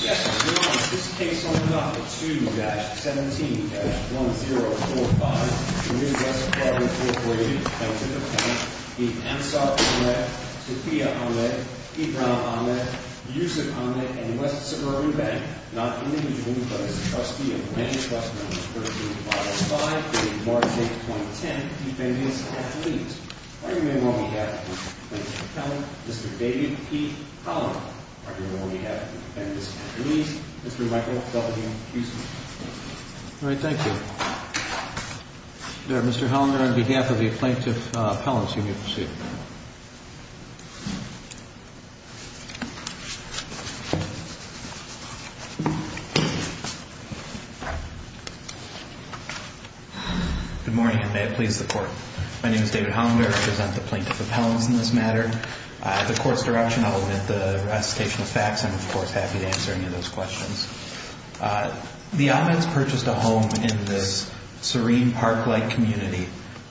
Yes, Your Honor, this case opens off with 2-17-1045. The Midwest Club, Incorporated. Defendant Appellant is Ansar Ahmed, Tapia Ahmed, Ibrahim Ahmed, Yusuf Ahmed, and West Suburban Bank. Not individually, but as a trustee of the Midwest Club v. Files 5, dated March 8, 2010. Defendants have to leave. Argument on behalf of the plaintiff's appellant, Mr. David P. Hollander. Argument on behalf of the defendant's police, Mr. Michael W. Houston. All right, thank you. Mr. Hollander, on behalf of the plaintiff's appellants, you may proceed. My name is David Hollander. I represent the plaintiff's appellants in this matter. At the court's direction, I will omit the recitation of facts. I'm, of course, happy to answer any of those questions. The Amheds purchased a home in this serene park-like community,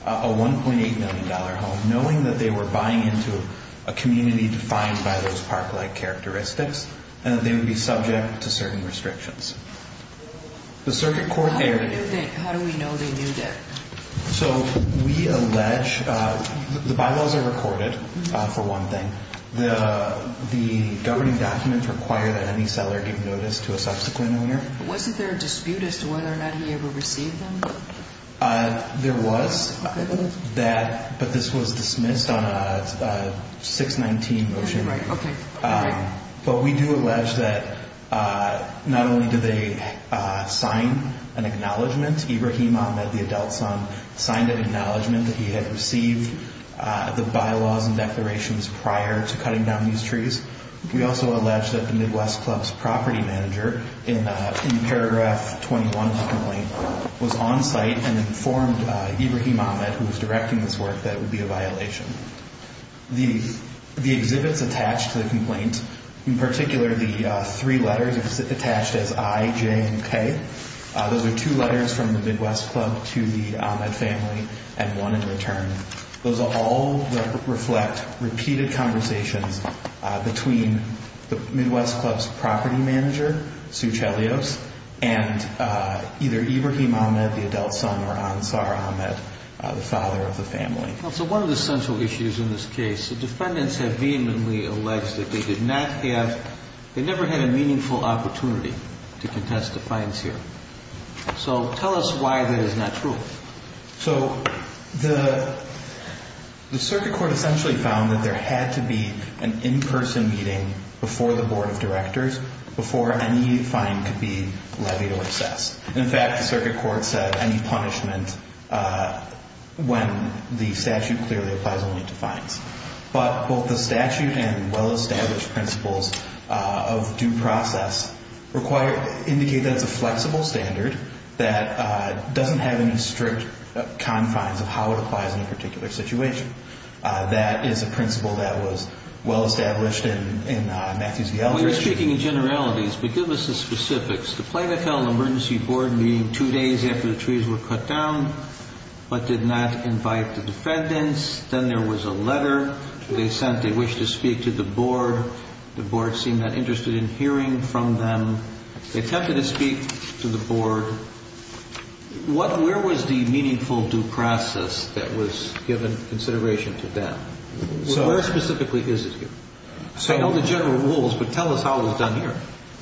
a $1.8 million home, knowing that they were buying into a community defined by those park-like characteristics and that they would be subject to certain restrictions. The circuit court there... How do we know they knew that? So, we allege... The bylaws are recorded, for one thing. The governing documents require that any seller give notice to a subsequent owner. Wasn't there a dispute as to whether or not he ever received them? There was, but this was dismissed on a 619 motion. Right, okay. But we do allege that not only did they sign an acknowledgment, Ibrahim Ahmed, the adult son, signed an acknowledgment that he had received the bylaws and declarations prior to cutting down these trees, we also allege that the Midwest Club's property manager, in paragraph 21 of the complaint, was on site and informed Ibrahim Ahmed, who was directing this work, that it would be a violation. The exhibits attached to the complaint, in particular the three letters attached as I, J, and K, those are two letters from the Midwest Club to the Ahmed family and one in return. Those are all that reflect repeated conversations between the Midwest Club's property manager, Sue Chelios, and either Ibrahim Ahmed, the adult son, or Ansar Ahmed, the father of the family. Well, so one of the central issues in this case, the defendants have vehemently alleged that they did not have... to contest the fines here. So tell us why that is not true. So the circuit court essentially found that there had to be an in-person meeting before the board of directors before any fine could be levied or assessed. In fact, the circuit court said any punishment when the statute clearly applies only to fines. But both the statute and well-established principles of due process require... indicate that it's a flexible standard that doesn't have any strict confines of how it applies in a particular situation. That is a principle that was well-established in Matthews v. Eldridge. We're speaking in generalities, but give us the specifics. The Plano County Emergency Board meeting two days after the trees were cut down but did not invite the defendants. Then there was a letter they sent. They wished to speak to the board. The board seemed not interested in hearing from them. They attempted to speak to the board. Where was the meaningful due process that was given consideration to them? Where specifically is it here? I know the general rules, but tell us how it was done here.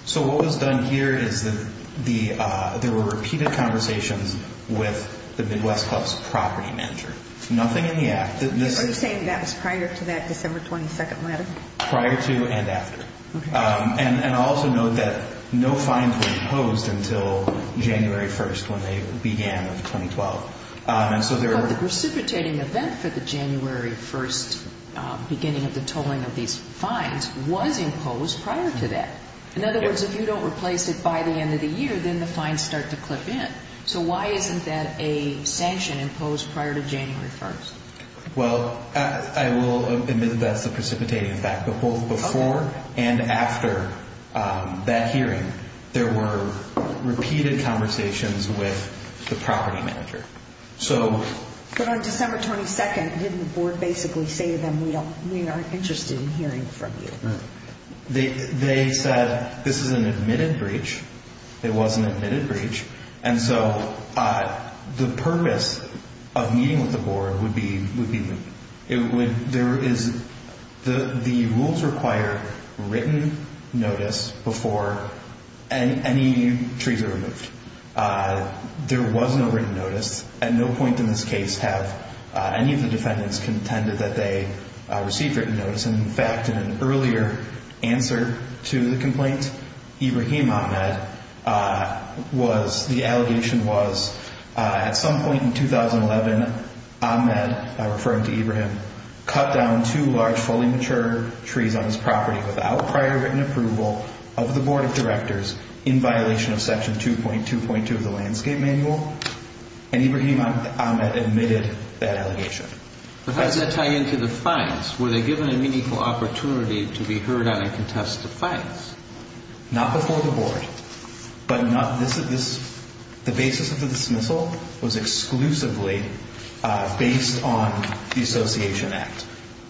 So what was done here is that there were repeated conversations with the Midwest Club's property manager. Nothing in the act. Are you saying that was prior to that December 22nd letter? Prior to and after. And also note that no fines were imposed until January 1st when they began in 2012. The precipitating event for the January 1st beginning of the tolling of these fines was imposed prior to that. In other words, if you don't replace it by the end of the year, then the fines start to clip in. So why isn't that a sanction imposed prior to January 1st? Well, I will admit that's the precipitating effect. But both before and after that hearing, there were repeated conversations with the property manager. But on December 22nd, didn't the board basically say to them, we are interested in hearing from you? They said this is an admitted breach. It was an admitted breach. And so the purpose of meeting with the board would be there is the rules require written notice before any trees are removed. There was no written notice. At no point in this case have any of the defendants contended that they received written notice. In fact, in an earlier answer to the complaint, Ibrahim Ahmed, the allegation was at some point in 2011, Ahmed, referring to Ibrahim, cut down two large fully mature trees on his property without prior written approval of the board of directors in violation of section 2.2.2 of the landscape manual. And Ibrahim Ahmed admitted that allegation. But how does that tie into the fines? Were they given a meaningful opportunity to be heard on and contested fines? Not before the board. But the basis of the dismissal was exclusively based on the Association Act.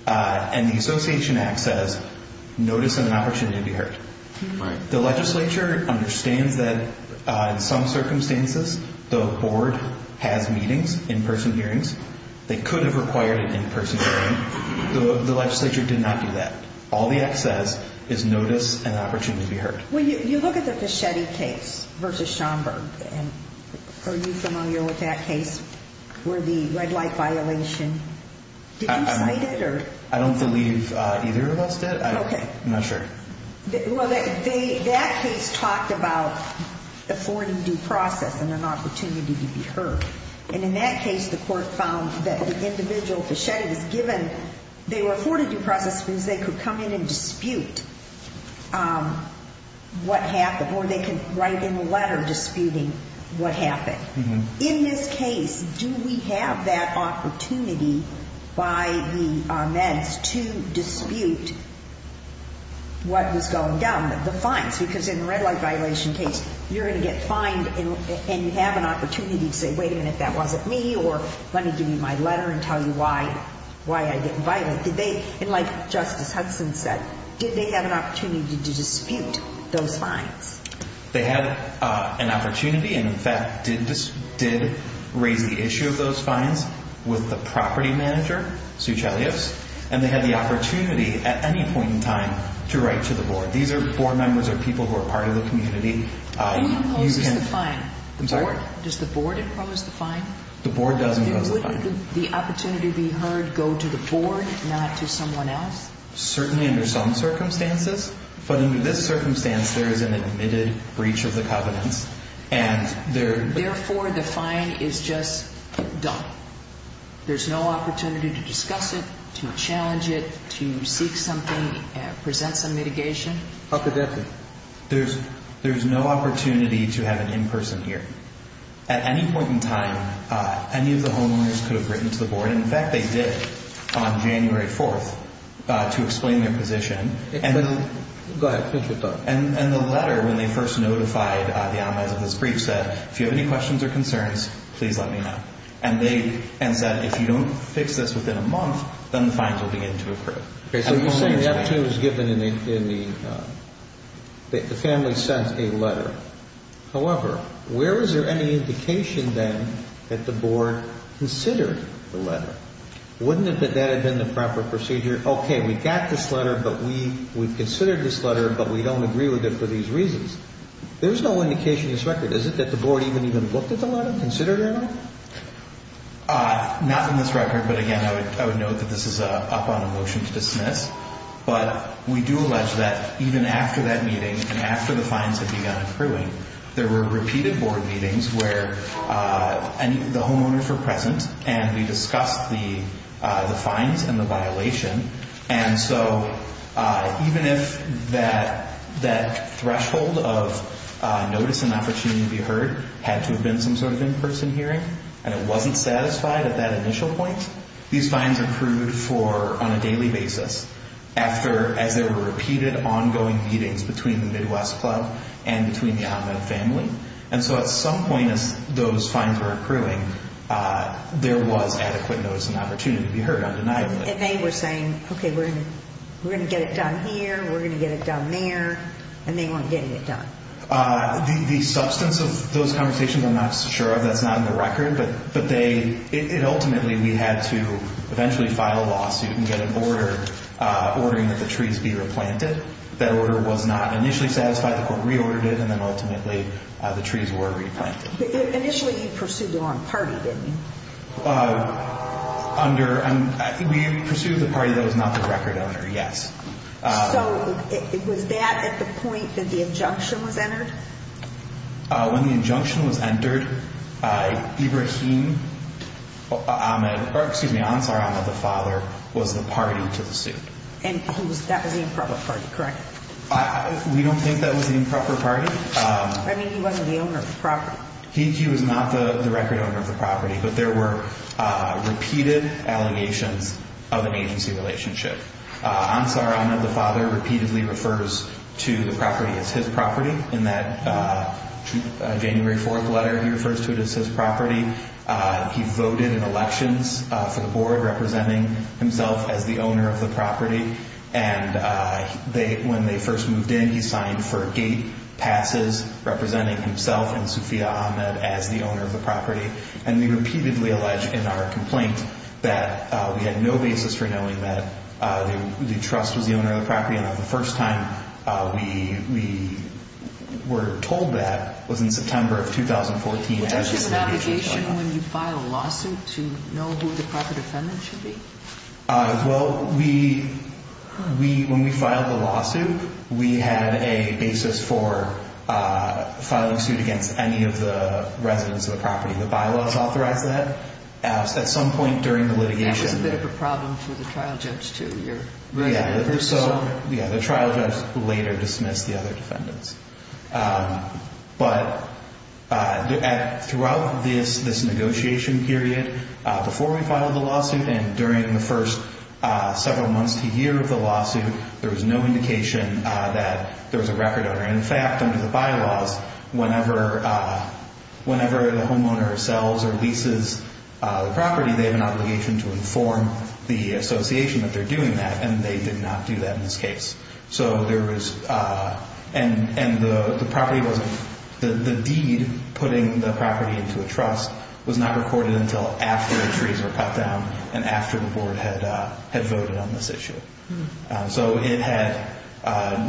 And the Association Act says notice and an opportunity to be heard. The legislature understands that in some circumstances the board has meetings, in-person hearings. They could have required an in-person hearing. The legislature did not do that. All the act says is notice and opportunity to be heard. When you look at the Fischetti case versus Schomburg, are you familiar with that case where the red light violation? Did you cite it? I don't believe either of us did. I'm not sure. Well, that case talked about affording due process and an opportunity to be heard. And in that case, the court found that the individual, Fischetti, was given, they were afforded due process because they could come in and dispute what happened, or they could write in a letter disputing what happened. In this case, do we have that opportunity by the meds to dispute what was going down, the fines? Because in the red light violation case, you're going to get fined, and you have an opportunity to say, wait a minute, that wasn't me, or let me give you my letter and tell you why I didn't violate. And like Justice Hudson said, did they have an opportunity to dispute those fines? They had an opportunity and, in fact, did raise the issue of those fines with the property manager, Sucellius, and they had the opportunity at any point in time to write to the board. These are board members or people who are part of the community. Who imposes the fine? I'm sorry? Does the board impose the fine? The board does impose the fine. Would the opportunity to be heard go to the board, not to someone else? Certainly under some circumstances. But under this circumstance, there is an admitted breach of the covenants. Therefore, the fine is just done. There's no opportunity to discuss it, to challenge it, to seek something, present some mitigation. There's no opportunity to have an in-person hearing. At any point in time, any of the homeowners could have written to the board. In fact, they did on January 4th to explain their position. Go ahead. And the letter, when they first notified the anomalies of this breach, said, if you have any questions or concerns, please let me know. And they said, if you don't fix this within a month, then the fines will begin to accrue. The opportunity was given and the family sent a letter. However, where was there any indication then that the board considered the letter? Wouldn't that have been the proper procedure? Okay, we've got this letter, but we've considered this letter, but we don't agree with it for these reasons. There's no indication in this record, is it, that the board even looked at the letter, considered it or not? Not in this record. But, again, I would note that this is up on a motion to dismiss. But we do allege that even after that meeting and after the fines had begun accruing, there were repeated board meetings where the homeowners were present and we discussed the fines and the violation. And so even if that threshold of notice and opportunity to be heard had to have been some sort of in-person hearing and it wasn't satisfied at that initial point, these fines accrued on a daily basis after, as there were repeated ongoing meetings between the Midwest Club and between the Ahmed family. And so at some point as those fines were accruing, there was adequate notice and opportunity to be heard undeniably. And they were saying, okay, we're going to get it done here, we're going to get it done there, and they weren't getting it done. The substance of those conversations I'm not sure of. That's not in the record. But ultimately we had to eventually file a lawsuit and get an order ordering that the trees be replanted. That order was not initially satisfied. The court reordered it, and then ultimately the trees were replanted. Initially you pursued the wrong party, didn't you? We pursued the party that was not the record owner, yes. So was that at the point that the injunction was entered? When the injunction was entered, Ibrahim Ahmed, or excuse me, Ansar Ahmed, the father, was the party to the suit. And that was the improper party, correct? We don't think that was the improper party. I mean, he wasn't the owner of the property. He was not the record owner of the property, but there were repeated allegations of an agency relationship. Ansar Ahmed, the father, repeatedly refers to the property as his property. In that January 4th letter he refers to it as his property. He voted in elections for the board, representing himself as the owner of the property. And when they first moved in, he signed for gate passes, representing himself and Sufiya Ahmed as the owner of the property. And we repeatedly allege in our complaint that we had no basis for knowing that the trust was the owner of the property. And the first time we were told that was in September of 2014. Which is an obligation when you file a lawsuit to know who the property defendant should be? Well, when we filed the lawsuit, we had a basis for filing suit against any of the residents of the property. The bylaws authorized that. At some point during the litigation. That was a bit of a problem for the trial judge, too. Yeah, the trial judge later dismissed the other defendants. But throughout this negotiation period, before we filed the lawsuit and during the first several months to year of the lawsuit, there was no indication that there was a record owner. In fact, under the bylaws, whenever the homeowner sells or leases the property, they have an obligation to inform the association that they're doing that. And they did not do that in this case. So there was... And the deed putting the property into a trust was not recorded until after the trees were cut down and after the board had voted on this issue. So it had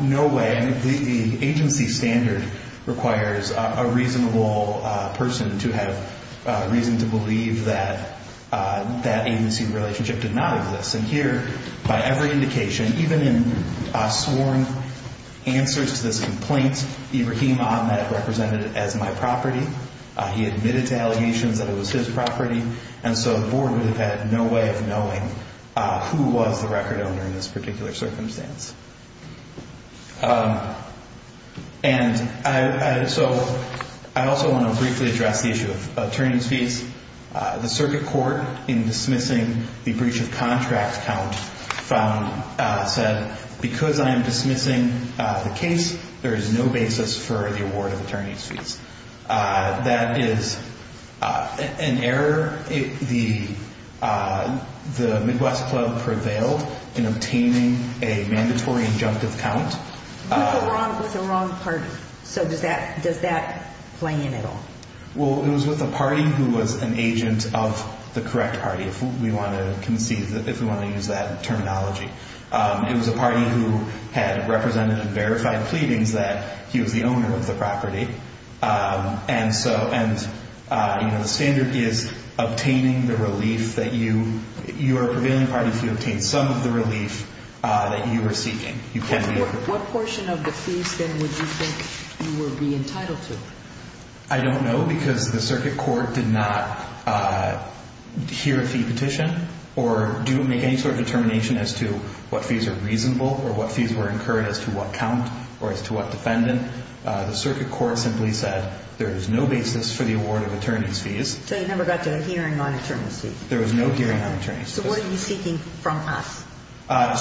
no way... I mean, the agency standard requires a reasonable person to have reason to believe that that agency relationship did not exist. And here, by every indication, even in sworn answers to this complaint, Ibrahim Ahmed represented it as my property. He admitted to allegations that it was his property. And so the board would have had no way of knowing who was the record owner in this particular circumstance. And so I also want to briefly address the issue of attorney's fees. The circuit court, in dismissing the breach of contract count, said, because I am dismissing the case, there is no basis for the award of attorney's fees. That is an error. The Midwest Club prevailed in obtaining a mandatory injunctive count. With the wrong party. So does that play in at all? Well, it was with the party who was an agent of the correct party, if we want to use that terminology. It was a party who had represented and verified pleadings that he was the owner of the property. And so the standard is obtaining the relief that you are a prevailing party if you obtain some of the relief that you are seeking. What portion of the fees, then, would you think you would be entitled to? I don't know, because the circuit court did not hear a fee petition or do make any sort of determination as to what fees are reasonable or what fees were incurred as to what count or as to what defendant. The circuit court simply said there is no basis for the award of attorney's fees. So you never got to a hearing on attorney's fees? There was no hearing on attorney's fees. So what are you seeking from us?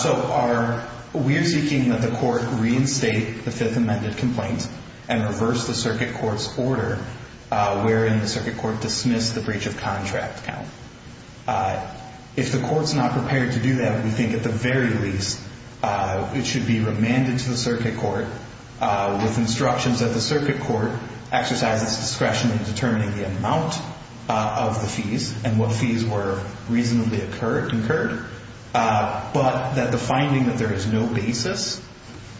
So we are seeking that the court reinstate the Fifth Amendment complaint and reverse the circuit court's order, wherein the circuit court dismissed the breach of contract count. If the court is not prepared to do that, we think at the very least it should be remanded to the circuit court with instructions that the circuit court exercise its discretion in determining the amount of the fees and what fees were reasonably incurred, but that the finding that there is no basis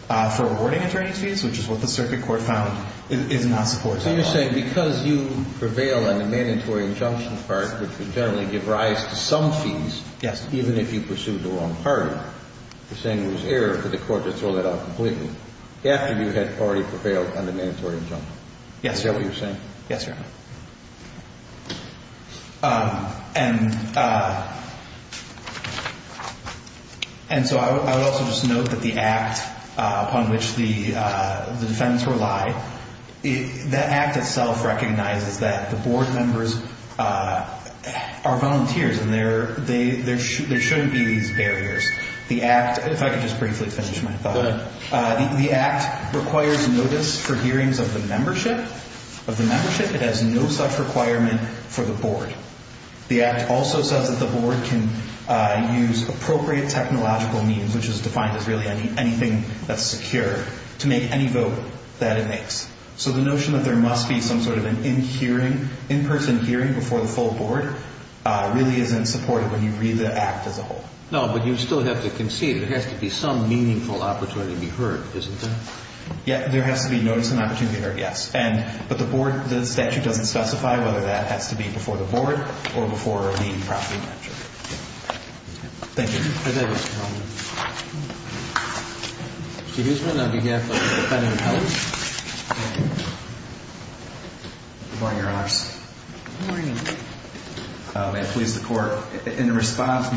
for awarding attorney's fees, which is what the circuit court found, is not supported at all. So you're saying because you prevail on the mandatory injunction part, which would generally give rise to some fees, even if you pursued the wrong party, you're saying it was error for the court to throw that out completely after you had already prevailed on the mandatory injunction. Is that what you're saying? Yes, Your Honor. And so I would also just note that the act upon which the defendants rely, that act itself recognizes that the board members are volunteers and there shouldn't be these barriers. If I could just briefly finish my thought. Go ahead. The act requires notice for hearings of the membership. It has no such requirement for the board. The act also says that the board can use appropriate technological means, which is defined as really anything that's secure, to make any vote that it makes. So the notion that there must be some sort of an in-person hearing before the full board really isn't supported when you read the act as a whole. No, but you still have to concede there has to be some meaningful opportunity to be heard, isn't there? Yes, there has to be notice and opportunity to be heard, yes. But the statute doesn't specify whether that has to be before the board or before the property manager. Thank you. Thank you, Mr. Coleman. Excuse me. I'll be careful. If that even helps. Good morning, Your Honors. Good morning. May it please the Court. In response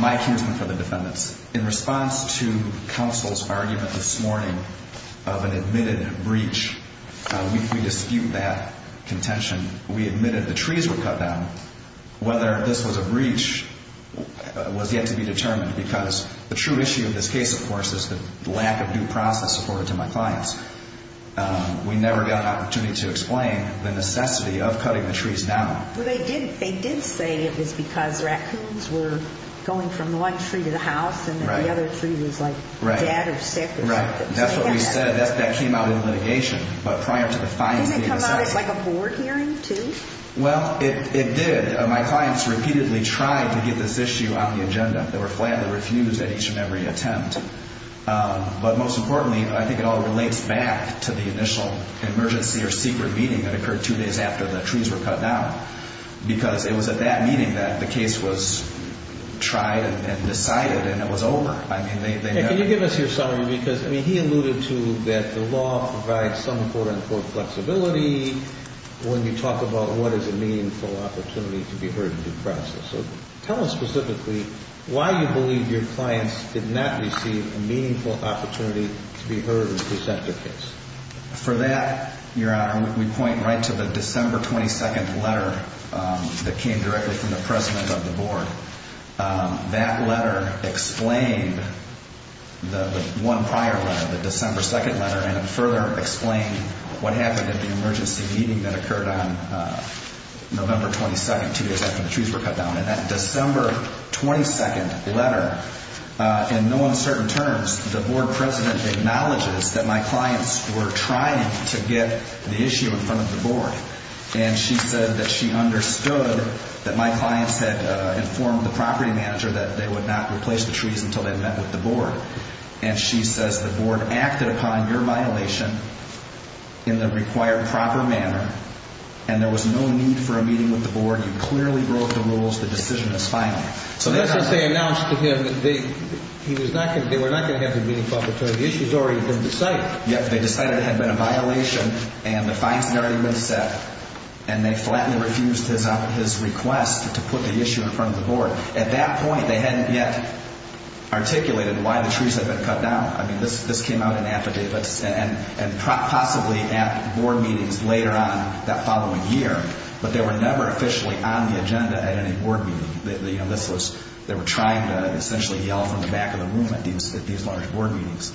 to counsel's argument this morning of an admitted breach, we dispute that contention. We admitted the trees were cut down. Whether this was a breach was yet to be determined because the true issue in this case, of course, is the lack of due process afforded to my clients. We never got an opportunity to explain the necessity of cutting the trees down. They did say it was because raccoons were going from one tree to the house and the other tree was like dead or sick or something. Right. That's what we said. That came out in litigation. But prior to the fines being assessed. Didn't it come out as like a board hearing, too? Well, it did. My clients repeatedly tried to get this issue on the agenda. They were flatly refused at each and every attempt. But most importantly, I think it all relates back to the initial emergency or secret meeting that occurred two days after the trees were cut down. Because it was at that meeting that the case was tried and decided and it was over. Can you give us your summary? Because he alluded to that the law provides some court-on-court flexibility. When you talk about what is a meaningful opportunity to be heard in due process, tell us specifically why you believe your clients did not receive a meaningful opportunity to be heard and present their case. For that, Your Honor, we point right to the December 22nd letter that came directly from the President of the Board. That letter explained the one prior letter, the December 2nd letter, and further explained what happened at the emergency meeting that occurred on November 22nd, two days after the trees were cut down. And that December 22nd letter, in no uncertain terms, the Board President acknowledges that my clients were trying to get the issue in front of the Board. And she said that she understood that my clients had informed the property manager that they would not replace the trees until they met with the Board. And she says the Board acted upon your violation in the required proper manner and there was no need for a meeting with the Board. You clearly broke the rules. The decision is final. That's what they announced to him. They were not going to have the meaningful opportunity. The issue has already been decided. Yes, they decided it had been a violation and the fines had already been set. And they flatly refused his request to put the issue in front of the Board. At that point, they hadn't yet articulated why the trees had been cut down. This came out in affidavits and possibly at Board meetings later on that following year. But they were never officially on the agenda at any Board meeting. They were trying to essentially yell from the back of the room at these large Board meetings.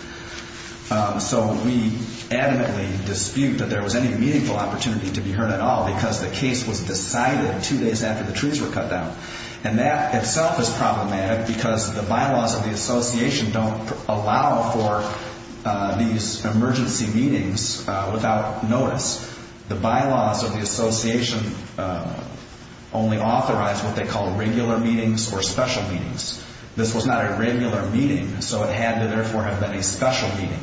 So we adamantly dispute that there was any meaningful opportunity to be heard at all because the case was decided two days after the trees were cut down. And that itself is problematic because the bylaws of the association don't allow for these emergency meetings without notice. The bylaws of the association only authorize what they call regular meetings or special meetings. This was not a regular meeting, so it had to, therefore, have been a special meeting.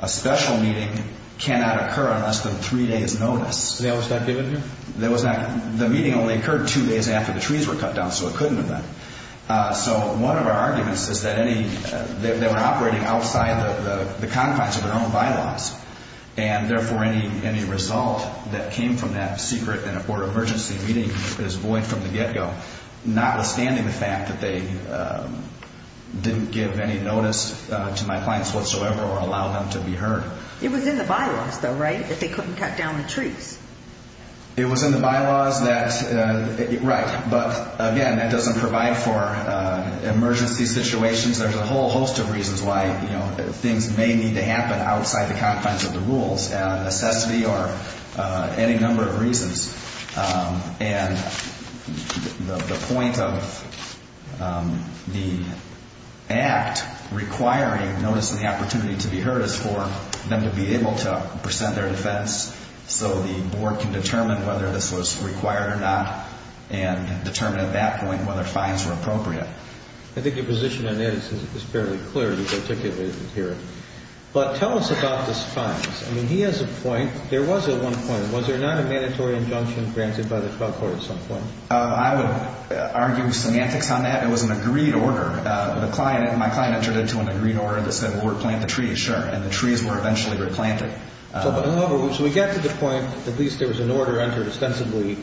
A special meeting cannot occur on less than three days' notice. Was that given here? The meeting only occurred two days after the trees were cut down, so it couldn't have been. So one of our arguments is that they were operating outside the confines of their own bylaws. And, therefore, any result that came from that secret or emergency meeting is void from the get-go, notwithstanding the fact that they didn't give any notice to my clients whatsoever or allow them to be heard. It was in the bylaws, though, right, that they couldn't cut down the trees? It was in the bylaws that, right. But, again, that doesn't provide for emergency situations. There's a whole host of reasons why things may need to happen outside the confines of the rules, necessity or any number of reasons. And the point of the act requiring notice and the opportunity to be heard is for them to be able to present their defense so the board can determine whether this was required or not and determine at that point whether fines were appropriate. I think your position on that is fairly clear, particularly here. But tell us about those fines. I mean, he has a point. There was a one point. Was there not a mandatory injunction granted by the trial court at some point? I would argue semantics on that. It was an agreed order. My client entered into an agreed order that said, well, we'll plant the trees, sure. And the trees were eventually replanted. However, so we get to the point at least there was an order entered ostensibly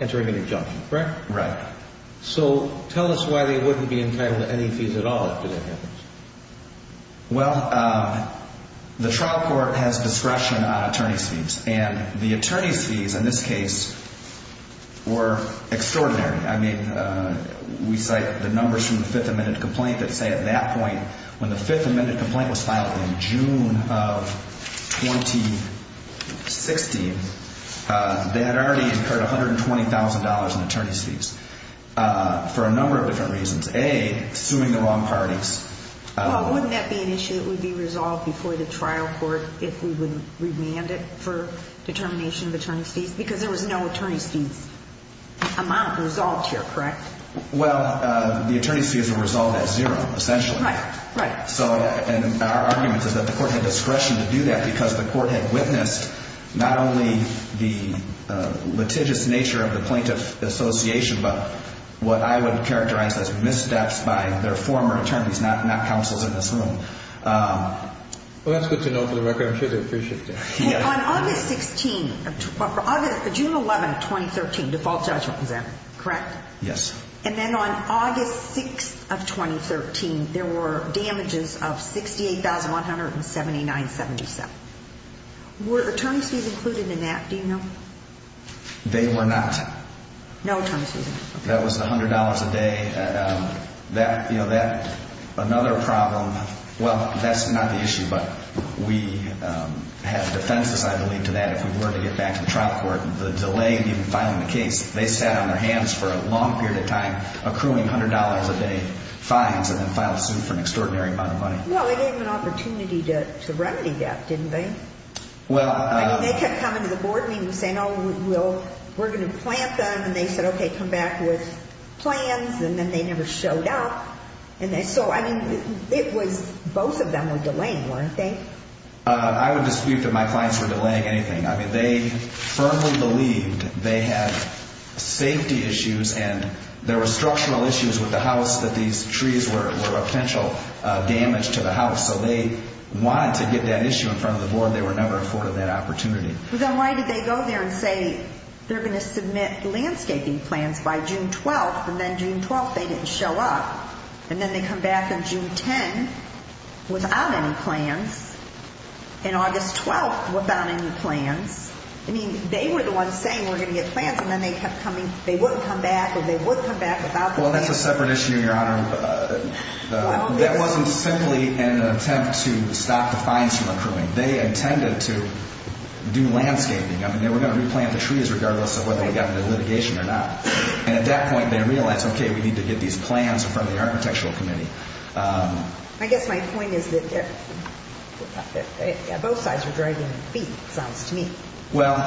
entering an injunction, correct? Right. So tell us why they wouldn't be entitled to any fees at all after that happens. Well, the trial court has discretion on attorney's fees. And the attorney's fees in this case were extraordinary. I mean, we cite the numbers from the Fifth Amendment complaint that say at that point, when the Fifth Amendment complaint was filed in June of 2016, they had already incurred $120,000 in attorney's fees for a number of different reasons. A, suing the wrong parties. Well, wouldn't that be an issue that would be resolved before the trial court if we would remand it for determination of attorney's fees? Because there was no attorney's fees amount resolved here, correct? Well, the attorney's fees were resolved at zero, essentially. Right. Right. So our argument is that the court had discretion to do that because the court had witnessed not only the litigious nature of the plaintiff association, but what I would characterize as missteps by their former attorneys, not counsels in this room. Well, that's good to know for the record. I'm sure they appreciate that. On August 16th, June 11th, 2013, default judgment was there, correct? Yes. And then on August 6th of 2013, there were damages of $68,179.77. Were attorney's fees included in that, do you know? They were not. No attorney's fees? That was $100 a day. Another problem, well, that's not the issue, but we have defenses, I believe, to that if we were to get back to the trial court. The delay in filing the case, they sat on their hands for a long period of time accruing $100 a day fines and then filed a suit for an extraordinary amount of money. Well, they gave them an opportunity to remedy that, didn't they? I mean, they kept coming to the board meeting saying, oh, we're going to plant them, and they said, okay, come back with plans, and then they never showed up. And so, I mean, it was both of them were delaying, weren't they? I would dispute that my clients were delaying anything. I mean, they firmly believed they had safety issues and there were structural issues with the house that these trees were a potential damage to the house. So they wanted to get that issue in front of the board. They were never afforded that opportunity. Then why did they go there and say they're going to submit landscaping plans by June 12th, and then June 12th they didn't show up, and then they come back on June 10th without any plans, and August 12th without any plans? I mean, they were the ones saying we're going to get plans, and then they kept coming. They wouldn't come back or they would come back without plans. Well, that's a separate issue, Your Honor. That wasn't simply an attempt to stop the fines from accruing. They intended to do landscaping. I mean, they were going to replant the trees regardless of whether they got into litigation or not. And at that point, they realized, okay, we need to get these plans in front of the architectural committee. I guess my point is that both sides are dragging their feet, it sounds to me. Well,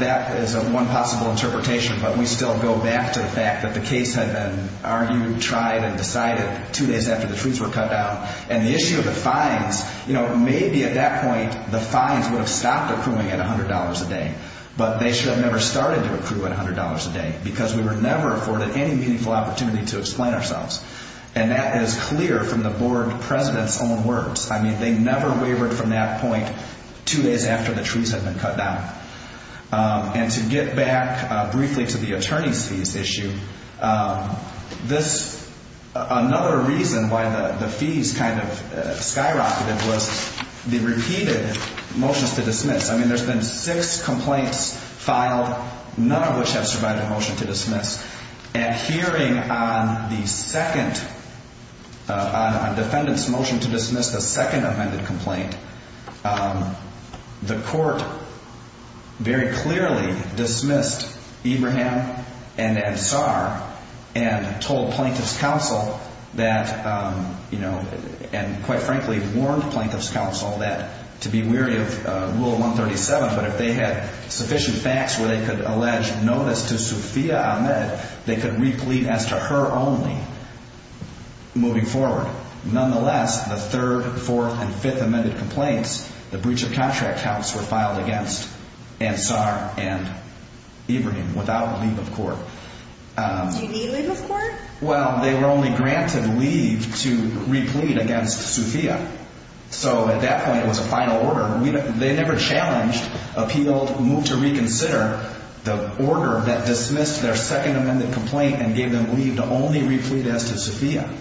that is one possible interpretation, but we still go back to the fact that the case had been argued, tried, and decided two days after the trees were cut down. And the issue of the fines, you know, maybe at that point the fines would have stopped accruing at $100 a day. But they should have never started to accrue at $100 a day because we were never afforded any meaningful opportunity to explain ourselves. And that is clear from the board president's own words. I mean, they never wavered from that point two days after the trees had been cut down. And to get back briefly to the attorney's fees issue, another reason why the fees kind of skyrocketed was the repeated motions to dismiss. I mean, there's been six complaints filed, none of which have survived a motion to dismiss. And hearing on the second, on defendant's motion to dismiss the second amended complaint, the court very clearly dismissed Ibrahim and Ansar and told plaintiff's counsel that, you know, and quite frankly warned plaintiff's counsel that to be weary of rule 137, but if they had sufficient facts where they could allege notice to Sufiya Ahmed, they could replete as to her only moving forward. Nonetheless, the third, fourth, and fifth amended complaints, the breach of contract counts were filed against Ansar and Ibrahim without leave of court. Do you need leave of court? Well, they were only granted leave to replete against Sufiya. So at that point, it was a final order. They never challenged, appealed, moved to reconsider the order that dismissed their second amended complaint and gave them leave to only replete as to Sufiya.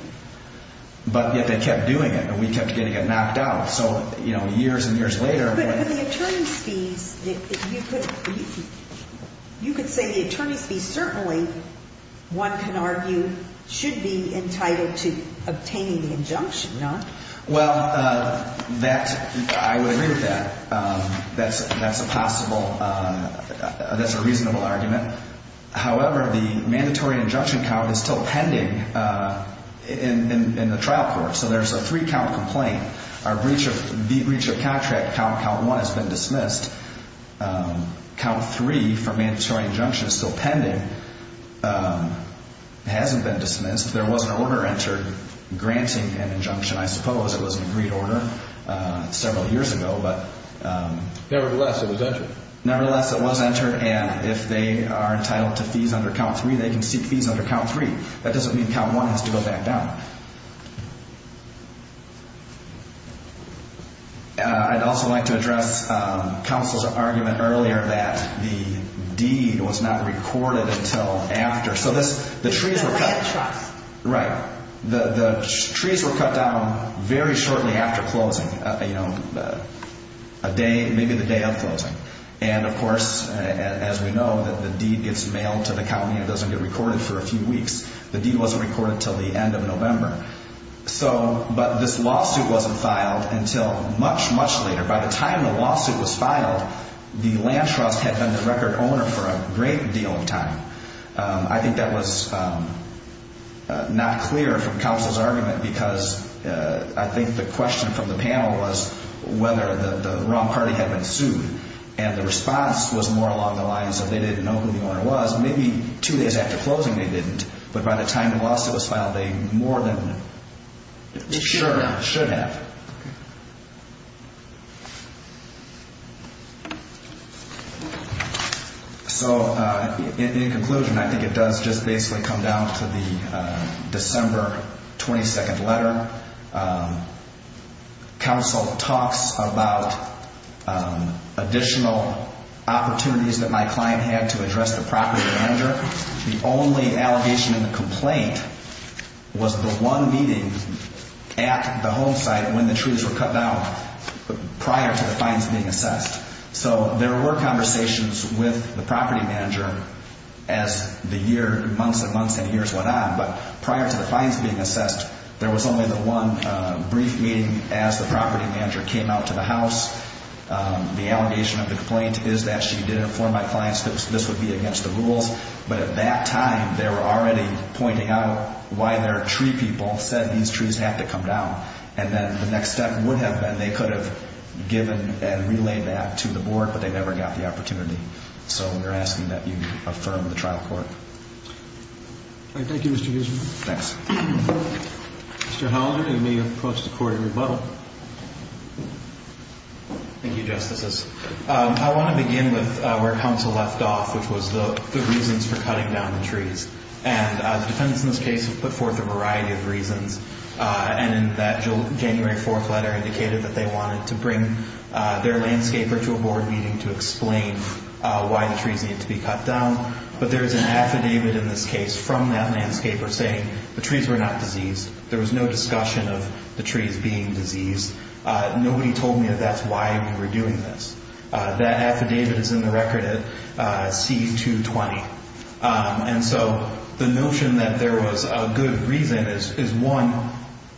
But yet they kept doing it and we kept getting it knocked out. So, you know, years and years later. But the attorney's fees, you could say the attorney's fees certainly, one can argue, should be entitled to obtaining the injunction, no? Well, that, I would agree with that. That's a possible, that's a reasonable argument. However, the mandatory injunction count is still pending in the trial court. So there's a three count complaint. Our breach of contract count, count one, has been dismissed. Count three for mandatory injunction is still pending. It hasn't been dismissed. There was an order entered granting an injunction, I suppose. It was an agreed order several years ago, but. Nevertheless, it was entered. Nevertheless, it was entered. And if they are entitled to fees under count three, they can seek fees under count three. That doesn't mean count one has to go back down. I'd also like to address counsel's argument earlier that the deed was not recorded until after. So this, the trees were cut. Right. The trees were cut down very shortly after closing. You know, a day, maybe the day of closing. And, of course, as we know, that the deed gets mailed to the county and doesn't get recorded for a few weeks. The deed wasn't recorded until the end of November. So, but this lawsuit wasn't filed until much, much later. By the time the lawsuit was filed, the land trust had been the record owner for a great deal of time. I think that was not clear from counsel's argument because I think the question from the panel was whether the wrong party had been sued. And the response was more along the lines of they didn't know who the owner was. Maybe two days after closing, they didn't. But by the time the lawsuit was filed, they more than should have. Okay. So, in conclusion, I think it does just basically come down to the December 22nd letter. Counsel talks about additional opportunities that my client had to address the property manager. The only allegation in the complaint was the one meeting at the home site when the trees were cut down prior to the fines being assessed. So there were conversations with the property manager as the year, months and months and years went on. But prior to the fines being assessed, there was only the one brief meeting as the property manager came out to the house. The allegation of the complaint is that she did inform my clients that this would be against the rules. But at that time, they were already pointing out why their tree people said these trees have to come down. And then the next step would have been they could have given and relayed that to the board, but they never got the opportunity. So we're asking that you affirm the trial court. Thank you, Mr. Huesman. Thanks. Mr. Hollander, you may approach the court in rebuttal. Thank you, Justices. I want to begin with where counsel left off, which was the reasons for cutting down the trees. And the defendants in this case have put forth a variety of reasons. And in that January 4th letter indicated that they wanted to bring their landscaper to a board meeting to explain why the trees need to be cut down. But there is an affidavit in this case from that landscaper saying the trees were not diseased. There was no discussion of the trees being diseased. Nobody told me that that's why we were doing this. That affidavit is in the record at C-220. And so the notion that there was a good reason is, one,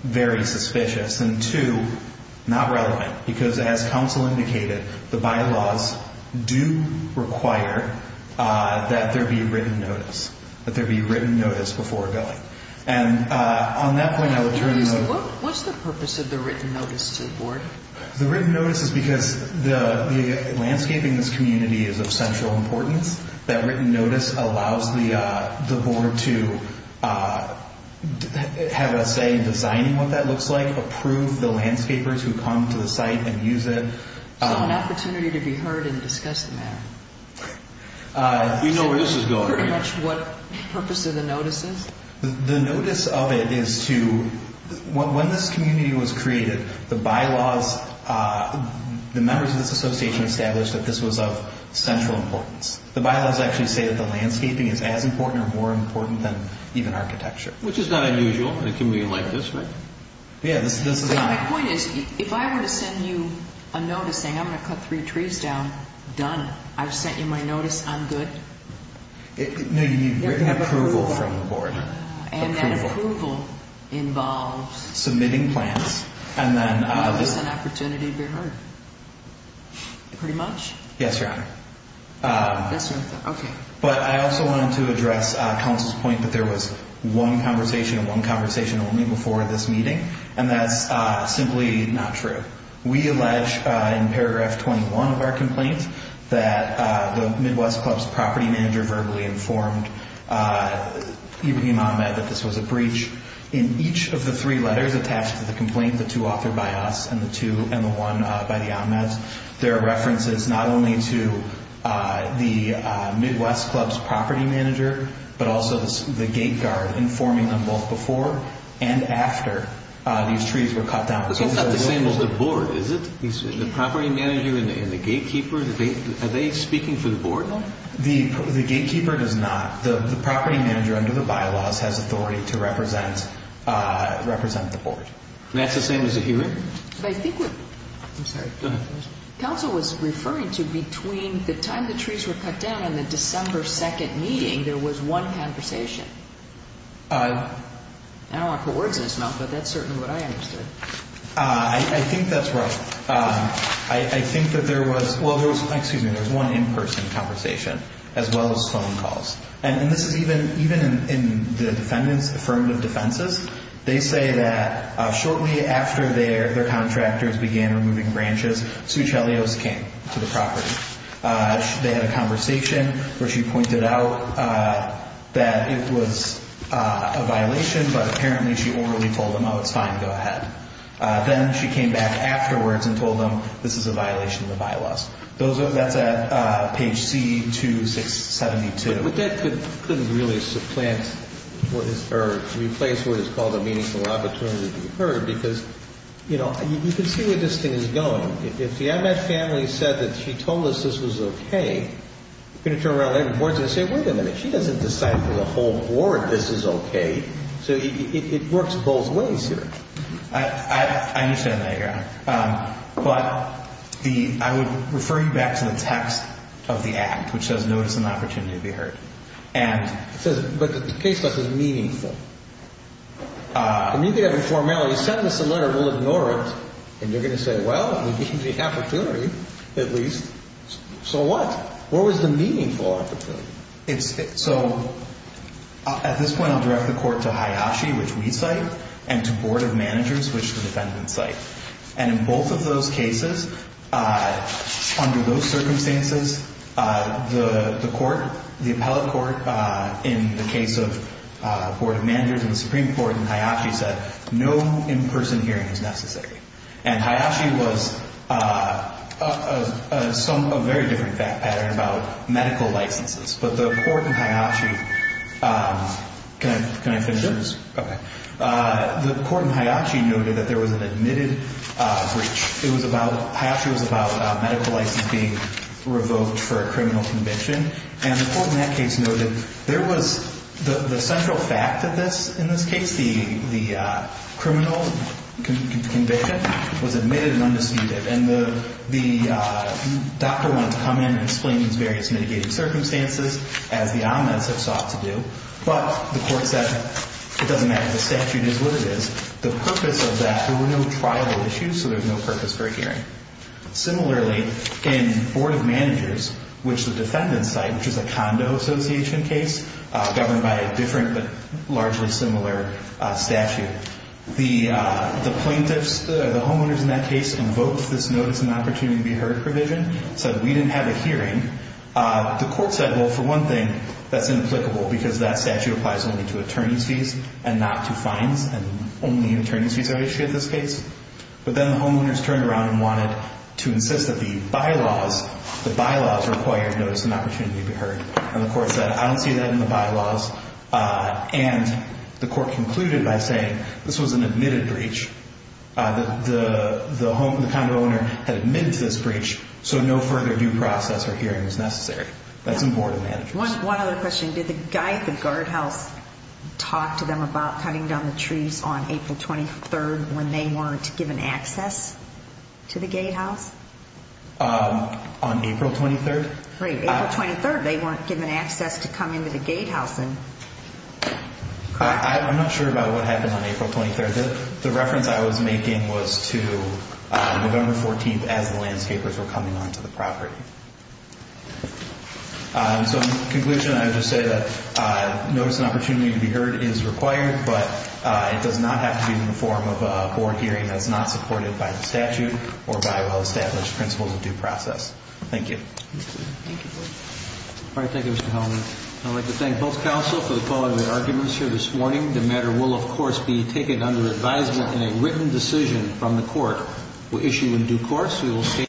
very suspicious and, two, not relevant. Because as counsel indicated, the bylaws do require that there be written notice, that there be written notice before going. And on that point, I would turn to you. What's the purpose of the written notice to the board? The written notice is because the landscaping in this community is of central importance. That written notice allows the board to have a say in designing what that looks like, approve the landscapers who come to the site and use it. So an opportunity to be heard and discuss the matter. You know where this is going. Pretty much what purpose of the notice is. The notice of it is to, when this community was created, the bylaws, the members of this association established that this was of central importance. The bylaws actually say that the landscaping is as important or more important than even architecture. Which is not unusual. The community liked this, right? Yeah. My point is, if I were to send you a notice saying, I'm going to cut three trees down, done. I've sent you my notice. I'm good. No, you need written approval from the board. And that approval involves? Submitting plans. And then this is an opportunity to be heard. Pretty much? Yes, Your Honor. Yes, Your Honor. Okay. But I also wanted to address counsel's point that there was one conversation and one conversation only before this meeting. And that's simply not true. We allege in paragraph 21 of our complaint that the Midwest Club's property manager verbally informed Ibrahim Ahmed that this was a breach. In each of the three letters attached to the complaint, the two authored by us and the one by the Ahmeds, there are references not only to the Midwest Club's property manager, but also the gate guard informing them both before and after these trees were cut down. But that's not the same as the board, is it? The property manager and the gatekeeper, are they speaking for the board? The gatekeeper does not. The property manager under the bylaws has authority to represent the board. And that's the same as the hearing? I'm sorry. Go ahead. Counsel was referring to between the time the trees were cut down and the December 2nd meeting, there was one conversation. I don't want to put words in his mouth, but that's certainly what I understood. I think that's right. I think that there was one in-person conversation as well as phone calls. And this is even in the defendant's affirmative defenses. They say that shortly after their contractors began removing branches, Sue Chelios came to the property. They had a conversation where she pointed out that it was a violation, but apparently she orally told them, oh, it's fine, go ahead. Then she came back afterwards and told them this is a violation of the bylaws. That's at page C2672. But that couldn't really supplant or replace what is called a meaningful opportunity, because, you know, you can see where this thing is going. If the Ahmed family said that she told us this was okay, you're going to turn around every board and say, wait a minute. She doesn't decide for the whole board this is okay. So it works both ways here. I understand that, Your Honor. But I would refer you back to the text of the act, which says notice an opportunity to be heard. But the case stuff is meaningful. The meaning of informality, you send us a letter, we'll ignore it, and you're going to say, well, we gave you the opportunity, at least. So what? What was the meaningful opportunity? So at this point, I'll direct the court to Hayashi, which we cite, and to board of managers, which the defendant cites. And in both of those cases, under those circumstances, the court, the appellate court, in the case of board of managers and the Supreme Court, and Hayashi said no in-person hearing is necessary. And Hayashi was a very different pattern about medical licenses. But the court in Hayashi – can I finish this? Sure. Okay. The court in Hayashi noted that there was an admitted breach. It was about – Hayashi was about medical license being revoked for a criminal conviction. And the court in that case noted there was – the central fact of this, in this case, the criminal conviction, was admitted and undisputed. And the doctor wanted to come in and explain these various mitigating circumstances, as the omens have sought to do. But the court said it doesn't matter. The statute is what it is. The purpose of that, there were no trial issues, so there's no purpose for a hearing. Similarly, in board of managers, which the defendant cited, which is a condo association case governed by a different but largely similar statute, the plaintiffs, the homeowners in that case invoked this notice and opportunity to be heard provision, said we didn't have a hearing. The court said, well, for one thing, that's inapplicable because that statute applies only to attorney's fees and not to fines, and only attorney's fees are issued in this case. But then the homeowners turned around and wanted to insist that the bylaws – the bylaws required notice and opportunity to be heard. And the court said, I don't see that in the bylaws. And the court concluded by saying this was an admitted breach. The condo owner had admitted to this breach, so no further due process or hearing was necessary. That's in board of managers. One other question. Did the guardhouse talk to them about cutting down the trees on April 23rd when they weren't given access to the gatehouse? On April 23rd? Right. April 23rd, they weren't given access to come into the gatehouse. I'm not sure about what happened on April 23rd. The reference I was making was to November 14th as the landscapers were coming onto the property. So in conclusion, I would just say that notice and opportunity to be heard is required, but it does not have to be in the form of a board hearing that's not supported by the statute or by well-established principles of due process. Thank you. Thank you. All right, thank you, Mr. Hellman. I'd like to thank both counsel for the quality of the arguments here this morning. The matter will, of course, be taken under advisement in a written decision from the court. We'll issue in due course.